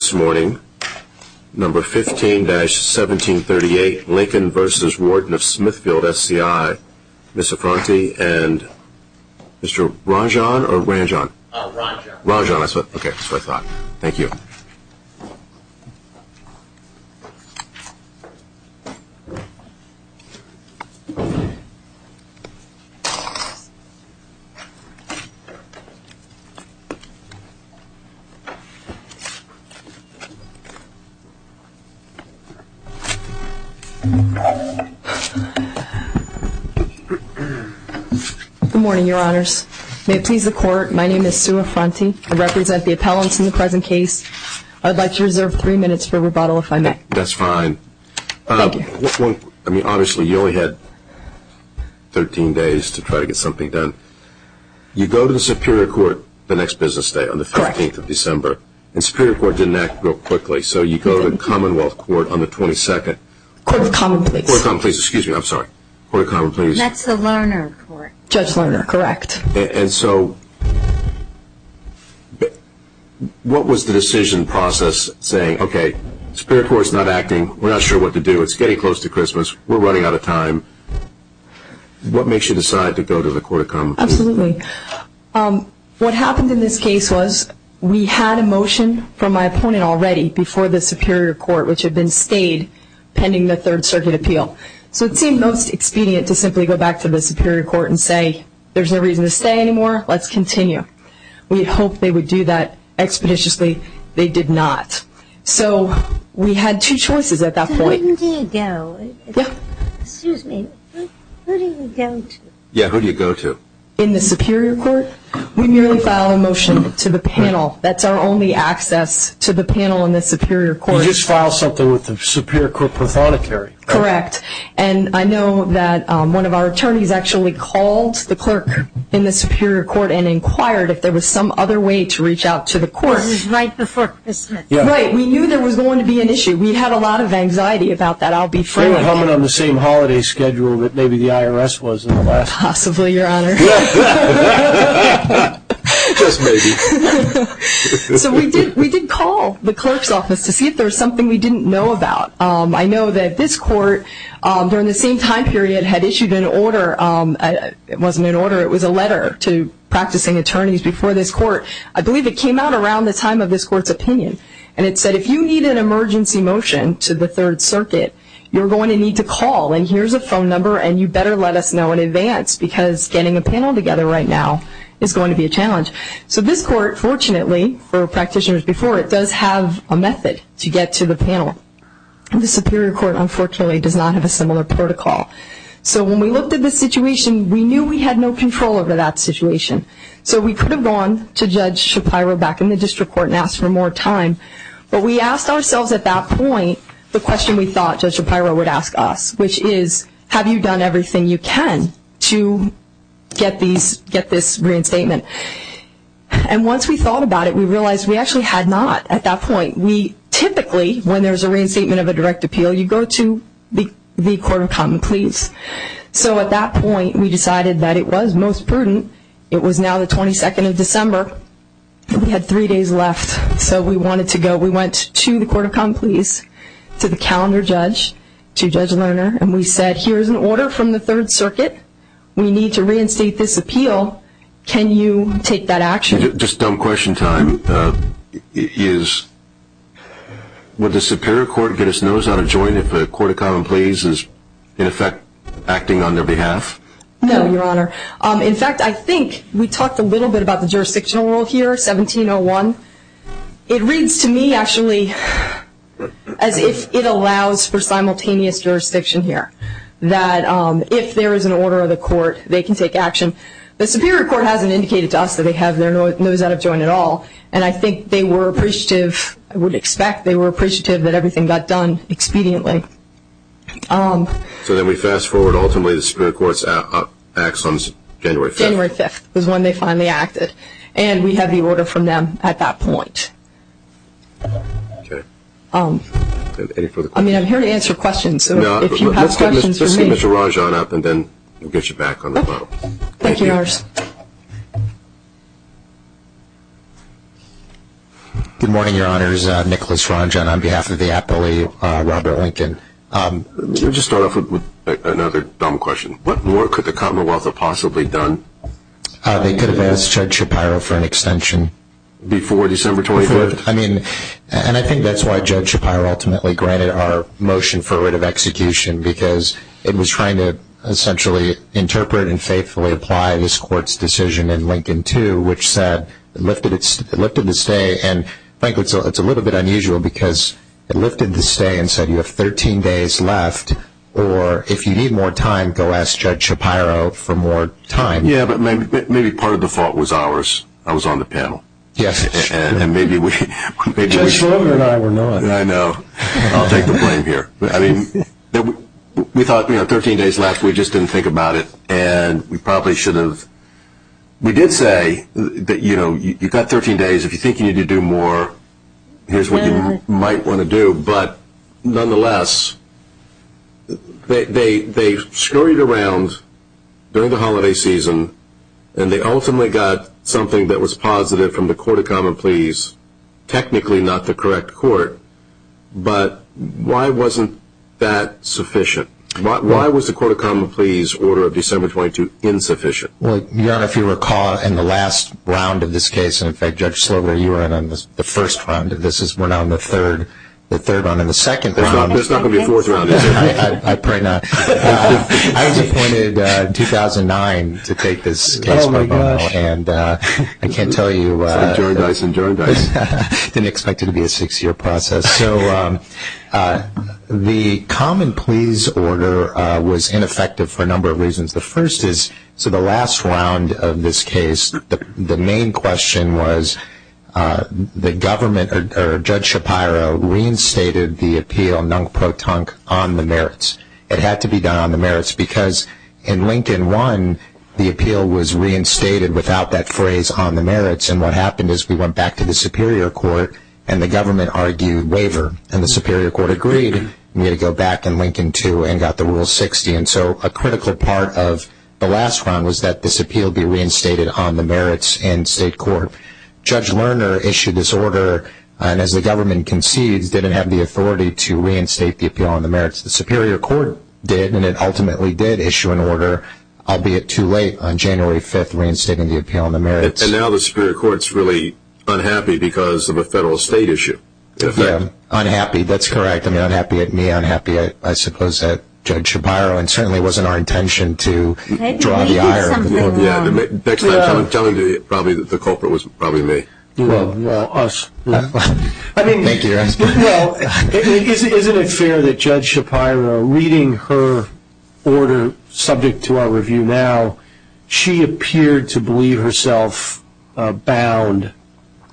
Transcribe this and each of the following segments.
This morning, number 15-1738, Lincoln v. Warden of Smithfield SCI, Ms. Sofranti and Mr. Ranjan or Ranjan? Oh, Ranjan. Ranjan, that's what, okay, that's what I thought. Thank you. Good morning, Your Honors. May it please the Court, my name is Sue Sofranti. I represent the appellants in the present case. I'd like to reserve three minutes for rebuttal, if I may. That's fine. Thank you. I mean, obviously, you only had 13 days to try to get something done. You go to the Superior Court, didn't act real quickly. So you go to the Commonwealth Court on the 22nd. Court of Common Pleas. Court of Common Pleas, excuse me, I'm sorry. Court of Common Pleas. That's the Lerner Court. Judge Lerner, correct. And so, what was the decision process saying, okay, Superior Court's not acting, we're not sure what to do, it's getting close to Christmas, we're running out of time. What makes you decide to go to the Court of Common Pleas? Absolutely. What happened in this case was, we had a motion from my opponent already, before the Superior Court, which had been stayed pending the Third Circuit appeal. So it seemed most expedient to simply go back to the Superior Court and say, there's no reason to stay anymore, let's continue. We hoped they would do that expeditiously. They did not. So we had two choices at that point. To whom do you go? Yeah. Excuse me, who do you go to? Yeah, who do you go to? In the Superior Court. We merely file a motion to the panel. That's our only access to the panel in the Superior Court. You just filed something with the Superior Court Prothonotary. Correct. And I know that one of our attorneys actually called the clerk in the Superior Court and inquired if there was some other way to reach out to the court. This was right before Christmas. Right. We knew there was going to be an issue. We had a lot of anxiety about that. I'll be Possibly, Your Honor. Just maybe. So we did call the clerk's office to see if there was something we didn't know about. I know that this court, during the same time period, had issued an order. It wasn't an order. It was a letter to practicing attorneys before this court. I believe it came out around the time of this court's opinion. And it said, if you need an emergency motion to the Third Circuit, you're going to need to call. And here's a phone number, and you better let us know in advance, because getting a panel together right now is going to be a challenge. So this court, fortunately, for practitioners before it, does have a method to get to the panel. The Superior Court, unfortunately, does not have a similar protocol. So when we looked at the situation, we knew we had no control over that situation. So we could have gone to Judge Shapiro back in the District Court and asked for more time. But we asked ourselves at that point the question we thought Judge Shapiro would ask us, which is, have you done everything you can to get this reinstatement? And once we thought about it, we realized we actually had not at that point. We typically, when there's a reinstatement of a direct appeal, you go to the Court of Common Pleas. So at that point, we decided that it was most prudent. It was now the 22nd of December, and we had three days left. So we wanted to go. So we went to the Court of Common Pleas, to the calendar judge, to Judge Lerner, and we said, here's an order from the Third Circuit. We need to reinstate this appeal. Can you take that action? Just dumb question time. Would the Superior Court get its nose out of joint if the Court of Common Pleas is, in effect, acting on their behalf? No, Your Honor. In fact, I think we talked a little bit about the jurisdictional role here, 1701. It reads to me, actually, as if it allows for simultaneous jurisdiction here. That if there is an order of the Court, they can take action. The Superior Court hasn't indicated to us that they have their nose out of joint at all, and I think they were appreciative. I would expect they were appreciative that everything got done expediently. So then we fast forward, ultimately the Superior Court acts on January 5th. January 5th is when they finally acted, and we have the order from them at that point. I'm here to answer questions, so if you have questions for me... Let's get Mr. Ranjan up, and then we'll get you back on the phone. Thank you, Your Honor. Good morning, Your Honor. This is Nicholas Ranjan on behalf of the Appellee Robert Lincoln. Let me just start off with another dumb question. What more could the Commonwealth have possibly done? They could have asked Judge Shapiro for an extension. Before December 24th? I mean, and I think that's why Judge Shapiro ultimately granted our motion for a writ of execution, because it was trying to essentially interpret and faithfully apply this Court's decision in Lincoln 2, which said it lifted the stay, and frankly, it's a little bit unusual because it lifted the stay and said you have 13 days left, or if you need more time, go ask Judge Shapiro for more time. Yeah, but maybe part of the fault was ours. I was on the panel. Yes, it's true. Judge Schroeder and I were not. I know. I'll take the blame here. We thought, you know, 13 days left. We just didn't think about it, and we probably should have... We did say that, you know, you've got 13 days. If you think you need to do more, here's what you might want to do, but nonetheless, they scurried around during the holiday season and they ultimately got something that was positive from the Court of Common Pleas, technically not the correct court, but why wasn't that sufficient? Why was the Court of Common Pleas order of December 22 insufficient? Well, Your Honor, if you recall, in the last round of this case, and in fact, Judge Slover, you were in on the first round. This is, we're now in the third round, and the second round... There's not going to be a fourth round, is there? I pray not. I was appointed in 2009 to take this case by bail, and I can't tell you... It's like Jordan Dyson, Jordan Dyson. I didn't expect it to be a six-year process. The first is, so the last round of this case, the main question was, the government, or Judge Shapiro, reinstated the appeal, non-pro-tunk, on the merits. It had to be done on the merits, because in Lincoln 1, the appeal was reinstated without that phrase, on the merits, and what happened is we went back to the Superior Court, and the government argued waiver, and the Superior Court agreed. We had to go back in Lincoln 2 and got the Rule 60, and so a critical part of the last round was that this appeal be reinstated on the merits in state court. Judge Lerner issued this order, and as the government concedes, didn't have the authority to reinstate the appeal on the merits. The Superior Court did, and it ultimately did issue an order, albeit too late, on January 5th, reinstating the appeal on the merits. And now the Superior Court's really unhappy because of a federal-state issue. Yeah, unhappy, that's correct. I mean, unhappy at me, unhappy, I suppose, at Judge Shapiro, and certainly it wasn't our intention to draw the iron. Maybe we did something wrong. Yeah, next time someone's telling you, probably the culprit was probably me. Well, us. Thank you, Your Honor. Isn't it fair that Judge Shapiro, reading her order subject to our review now, she appeared to believe herself bound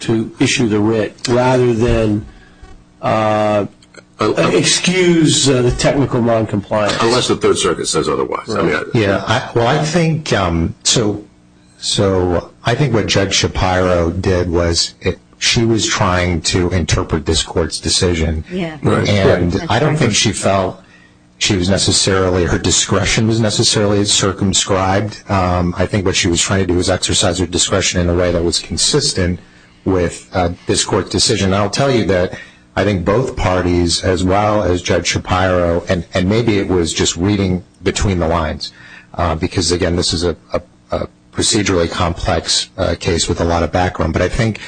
to issue the writ, rather than excuse the technical noncompliance? Unless the Third Circuit says otherwise. Well, I think what Judge Shapiro did was, she was trying to interpret this Court's decision. And I don't think she felt she was necessarily, her discretion was necessarily circumscribed. I think what she was trying to do was exercise her discretion in a way that was consistent with this Court's decision. And I'll tell you that I think both parties, as well as Judge Shapiro, and maybe it was just reading between the lines. Because, again, this is a procedurally complex case with a lot of background. But I think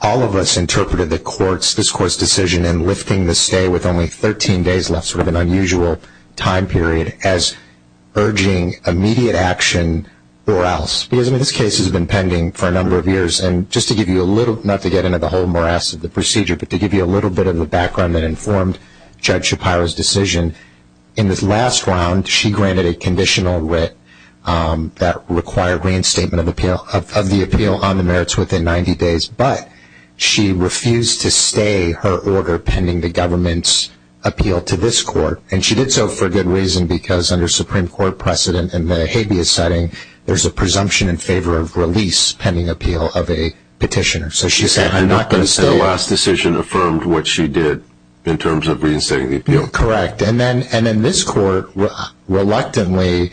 all of us interpreted the Court's, this Court's decision in lifting the stay with only 13 days left, sort of an unusual time period, as urging immediate action or else. Because, I mean, this case has been pending for a number of years. And just to give you a little, not to get into the whole morass of the procedure, but to give you a little bit of the background that informed Judge Shapiro's decision, in this last round, she granted a conditional writ that required reinstatement of the appeal on the merits within 90 days. But she refused to stay her order pending the government's appeal to this Court. And she did so for a good reason, because under Supreme Court precedent in the habeas setting, there's a presumption in favor of release pending appeal of a petitioner. So she said, I'm not going to stay. And that last decision affirmed what she did in terms of reinstating the appeal. Correct. And then this Court reluctantly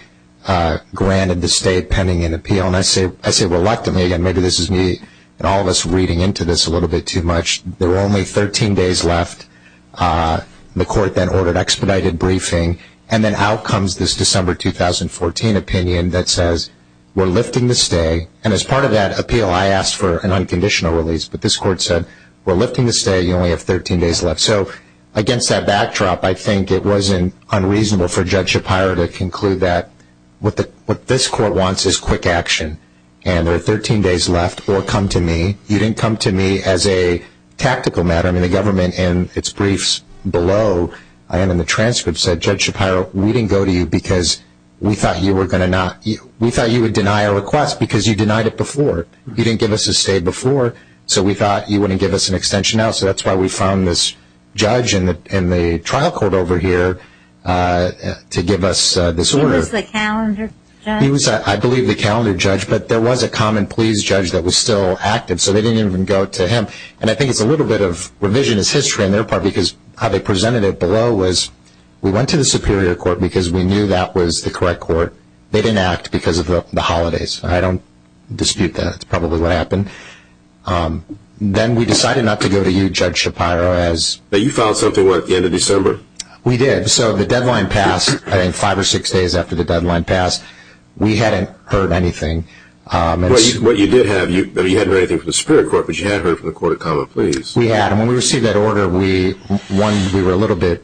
granted the stay pending an appeal. And I say reluctantly. Again, maybe this is me and all of us reading into this a little bit too much. There were only 13 days left. The Court then ordered expedited briefing. And then out comes this December 2014 opinion that says, we're lifting the stay. And as part of that appeal, I asked for an unconditional release. But this Court said, we're lifting the stay. You only have 13 days left. So against that backdrop, I think it wasn't unreasonable for Judge Shapiro to conclude that what this Court wants is quick action. And there are 13 days left. Or come to me. You didn't come to me as a tactical matter. I mean, the government in its briefs below, and in the transcripts, said, Judge Shapiro, we didn't go to you because we thought you would deny a request because you denied it before. You didn't give us a stay before. So we thought you wouldn't give us an extension now. So that's why we found this judge in the trial court over here to give us this order. He was the calendar judge? He was, I believe, the calendar judge. But there was a common pleas judge that was still active. So they didn't even go to him. And I think it's a little bit of revisionist history on their part because how they presented it below was we went to the Superior Court because we knew that was the correct court. They didn't act because of the holidays. I don't dispute that. That's probably what happened. Then we decided not to go to you, Judge Shapiro, as... But you filed something at the end of December? We did. So the deadline passed, I think five or six days after the deadline passed. We hadn't heard anything. What you did have, you hadn't heard anything from the Superior Court, but you had heard from the Court of Common Pleas. We had. And when we received that order, one, we were a little bit...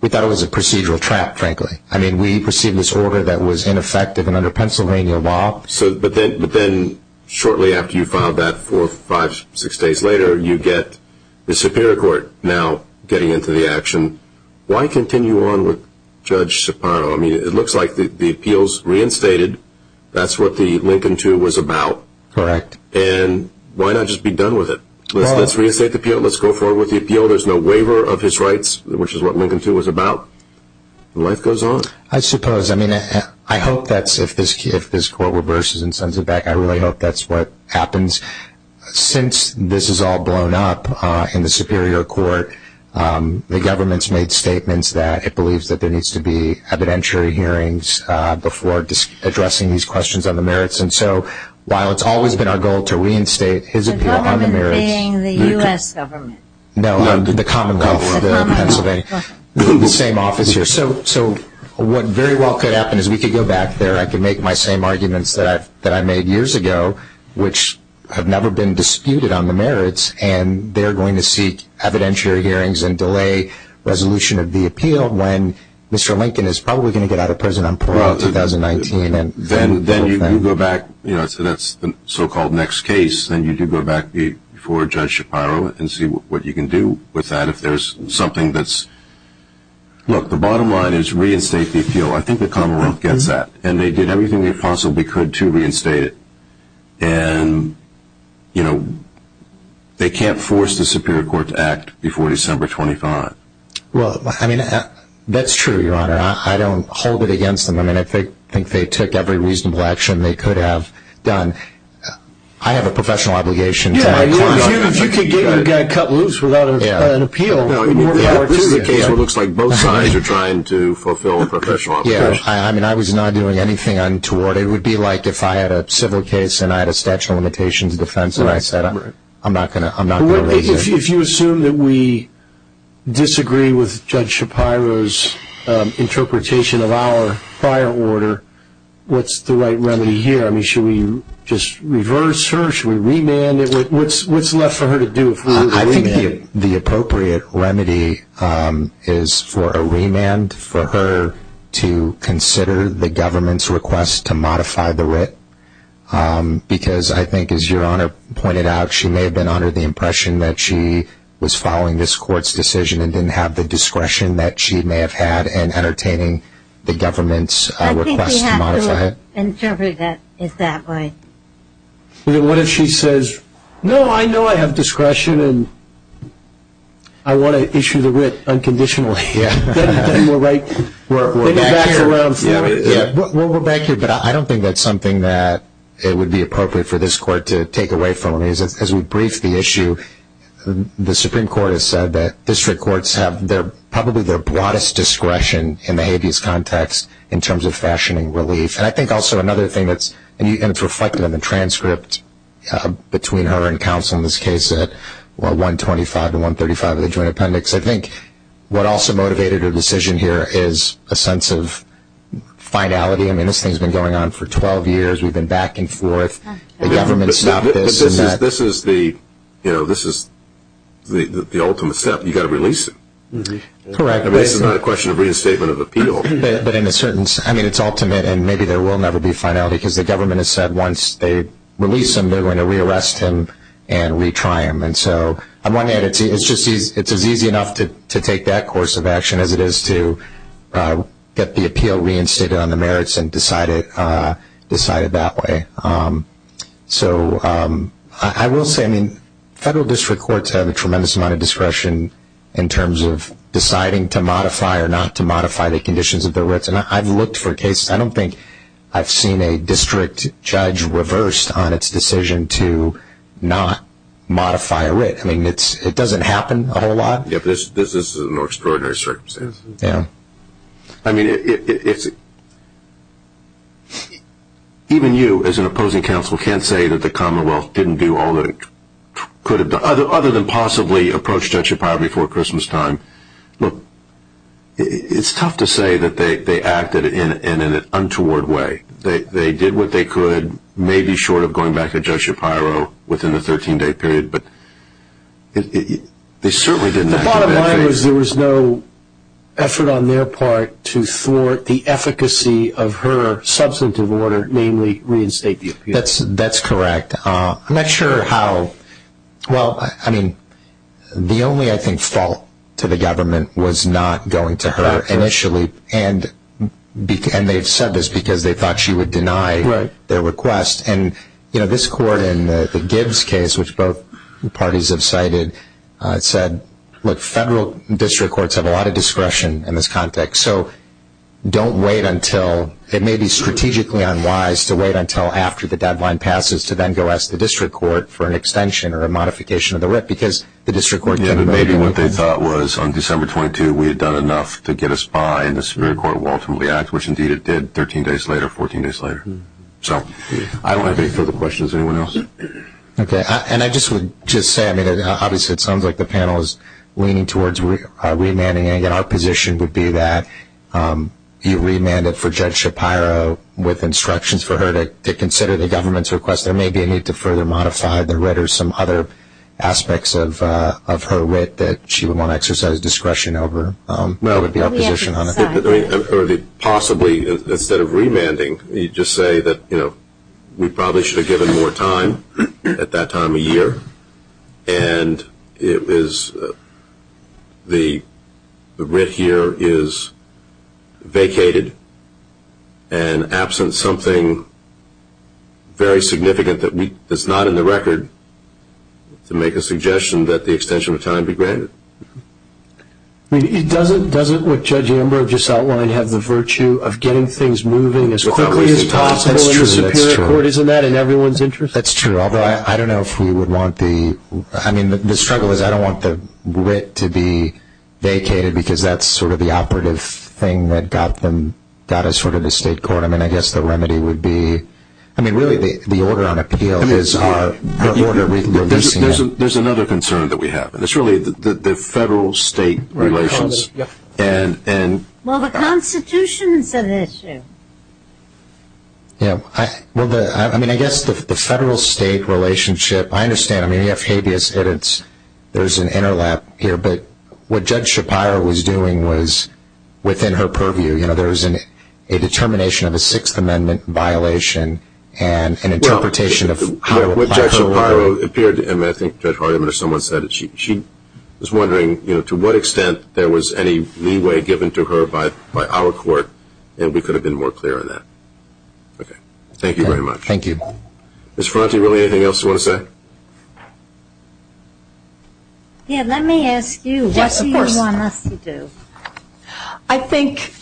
We thought it was a procedural trap, frankly. I mean, we received this order that was ineffective and under Pennsylvania law. But then shortly after you filed that, four, five, six days later, you get the Superior Court now getting into the action. Why continue on with Judge Shapiro? I mean, it looks like the appeals reinstated. That's what the Lincoln II was about. Correct. And why not just be done with it? Let's reinstate the appeal. Let's go forward with the appeal. There's no waiver of his rights, which is what Lincoln II was about. Life goes on. I suppose. I mean, I hope that's... If this Court reverses and sends it back, I really hope that's what happens. Since this is all blown up in the Superior Court, the government's made statements that it believes that there needs to be an appeal to reinstate his appeal on the merits. The government being the U.S. government? No, the Commonwealth of Pennsylvania. The same office here. So what very well could happen is we could go back there. I could make my same arguments that I made years ago, which have never been disputed on the merits, and they're going to seek evidentiary hearings and delay resolution of the appeal when Mr. Lincoln is probably going to get out of prison on parole in 2019. Then you go back... That's the so-called next case. Then you do go back before Judge Shapiro and see what you can do with that if there's something that's... Look, the bottom line is reinstate the appeal. I think the Commonwealth gets that, and they did everything they possibly could to reinstate it. They can't force the Superior Court to act before December 25. Well, I mean, that's true, Your Honor. I don't hold it against them. I mean, I think they took every reasonable action they could have done. I have a professional obligation to my court. Yeah, if you could get your guy cut loose without an appeal... This is a case where it looks like both sides are trying to fulfill a professional obligation. Yeah, I mean, I was not doing anything untoward. It would be like if I had a civil case and I had a statute of limitations of defense and I said, I'm not going to lay here. If you assume that we have Shapiro's interpretation of our prior order, what's the right remedy here? I mean, should we just reverse her? Should we remand it? What's left for her to do? I think the appropriate remedy is for a remand for her to consider the government's request to modify the writ because I think, as Your Honor pointed out, she may have been under the impression that she was following this court's decision and didn't have the discretion that she may have had in entertaining the government's request to modify it. I think we have to interpret it that way. What if she says, No, I know I have discretion and I want to issue the writ unconditionally. Then you're right. We're back here. But I don't think that's something that it would be appropriate for this court to take away from. As we brief the issue, the Supreme Court has said that district courts have probably their broadest discretion in the habeas context in terms of fashioning relief. It's reflected in the transcript between her and counsel in this case at 125-135 of the Joint Appendix. I think what also motivated her decision here is a sense of finality. This thing's been going on for 12 years. We've been back and forth. The government stopped this. But this is the ultimate step. You've got to release him. It's not a question of reinstatement of appeal. I mean, it's ultimate and maybe there will never be finality because the government has said once they release him they're going to re-arrest him and re-try him. It's as easy enough to take that course of action as it is to get the appeal reinstated on the merits and decide it that way. I will say federal district courts have a tremendous amount of discretion in terms of deciding to modify or not to modify the conditions of their writs. I've looked for cases. I don't think I've seen a district judge reversed on its decision to not modify a writ. It doesn't happen a whole lot. This is an extraordinary circumstance. I mean, even you as an opposing counsel can't say that the Commonwealth didn't do all that it could have done other than possibly approach Judge Shapiro before Christmastime. Look, it's tough to say that they acted in an untoward way. They did what they could, maybe short of going back to Judge Shapiro within the 13-day period, but they certainly didn't... The bottom line was there was no effort on their part to thwart the substantive order, namely reinstate the appeal. That's correct. I'm not sure how... Well, I mean, the only I think fault to the government was not going to her initially and they've said this because they thought she would deny their request. This court in the Gibbs case, which both parties have cited, said, look, federal district courts have a lot of discretion in this context, so don't wait until... It may be strategically unwise to wait until after the deadline passes to then go ask the district court for an extension or a modification of the writ because the district court... Yeah, but maybe what they thought was on December 22 we had done enough to get us by and the Superior Court will ultimately act, which indeed it did 13 days later, 14 days later. I don't have any further questions. Anyone else? Okay, and I just would just say obviously it sounds like the panel is leaning towards remanding and our position would be that you remand it for Judge Shapiro with instructions for her to consider the government's request. There may be a need to further modify the writ or some other aspects of her writ that she would want to exercise discretion over. Possibly, instead of remanding, you just say that we probably should have given more time at that time of year and it was the writ here is vacated and absent something very significant that's not in the record to make a suggestion that the extension of time be granted. I mean, doesn't what Judge Amber just outlined have the virtue of getting things moving as quickly as possible in the Superior Court? Isn't that in everyone's interest? That's true, although I don't know if we would want the... I mean, the struggle is I don't want the writ to be vacated because that's sort of the operative thing that got us to the State Court. I mean, I guess the remedy would be... I mean, really, the order on appeal is... There's another concern that we have, and it's really the federal-state relations. Well, the Constitution is an issue. Yeah. I mean, I guess the federal-state relationship... I understand. I mean, you have habeas edits. There's an interlap here, but what Judge Shapiro was doing was, within her purview, you know, there's a determination of a Sixth Amendment violation and an interpretation of how... Well, what Judge Shapiro appeared to... I mean, I think Judge Hardiman or someone said that she was wondering, you know, to what extent there was any leeway given to her by our Court, and we could have been more clear on that. Okay. Thank you very much. Thank you. Ms. Ferrante, really anything else you want to say? Yeah, let me ask you, what do you want us to do? I think...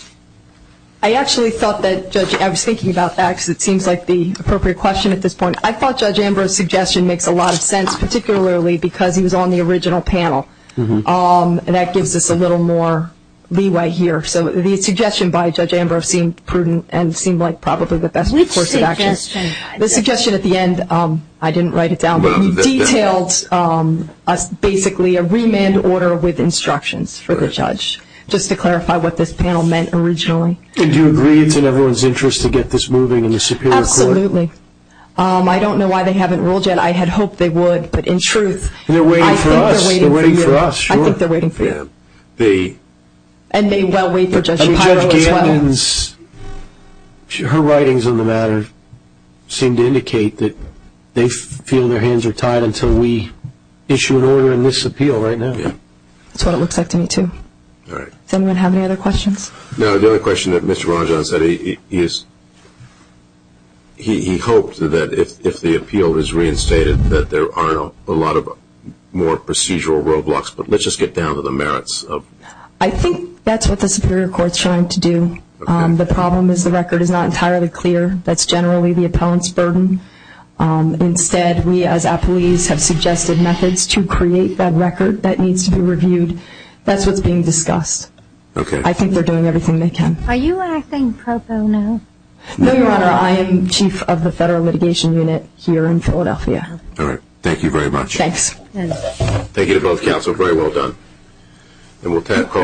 I actually thought that, Judge... I was thinking about that, because it seems like the appropriate question at this point. I thought Judge Ambrose's suggestion makes a lot of sense, particularly because he was on the original panel, and that gives us a little more leeway here. So the suggestion by Judge Ambrose seemed prudent and seemed like probably the best course of action. Which suggestion? The suggestion at the end, I didn't write it down, but you detailed basically a remand order with instructions for the Judge, just to clarify what this panel meant originally. Did you agree it's in everyone's interest to get this moving in the Superior Court? Absolutely. I don't know why they haven't ruled yet. I had hoped they would, but in truth... They're waiting for us. I think they're waiting for you. I think they're waiting for you. And they well wait for Judge Shapiro as well. Her hands... Her writings on the matter seem to indicate that they feel their hands are tied until we issue an order in this appeal right now. That's what it looks like to me too. Does anyone have any other questions? No, the only question that Mr. Rajan said is he hoped that if the appeal was reinstated that there aren't a lot of more procedural roadblocks, but let's just get down to the merits of... I think that's what the Superior Court is trying to do. The problem is the record is not entirely clear. That's generally the appellant's burden. Instead we as appellees have suggested methods to create that record that needs to be reviewed. That's what's being discussed. I think they're doing everything they can. Are you acting pro bono? No, Your Honor. I am Chief of the Federal Litigation Unit here in Philadelphia. Thank you very much. Thanks. Thank you to both counsel. Very well done. And we'll call...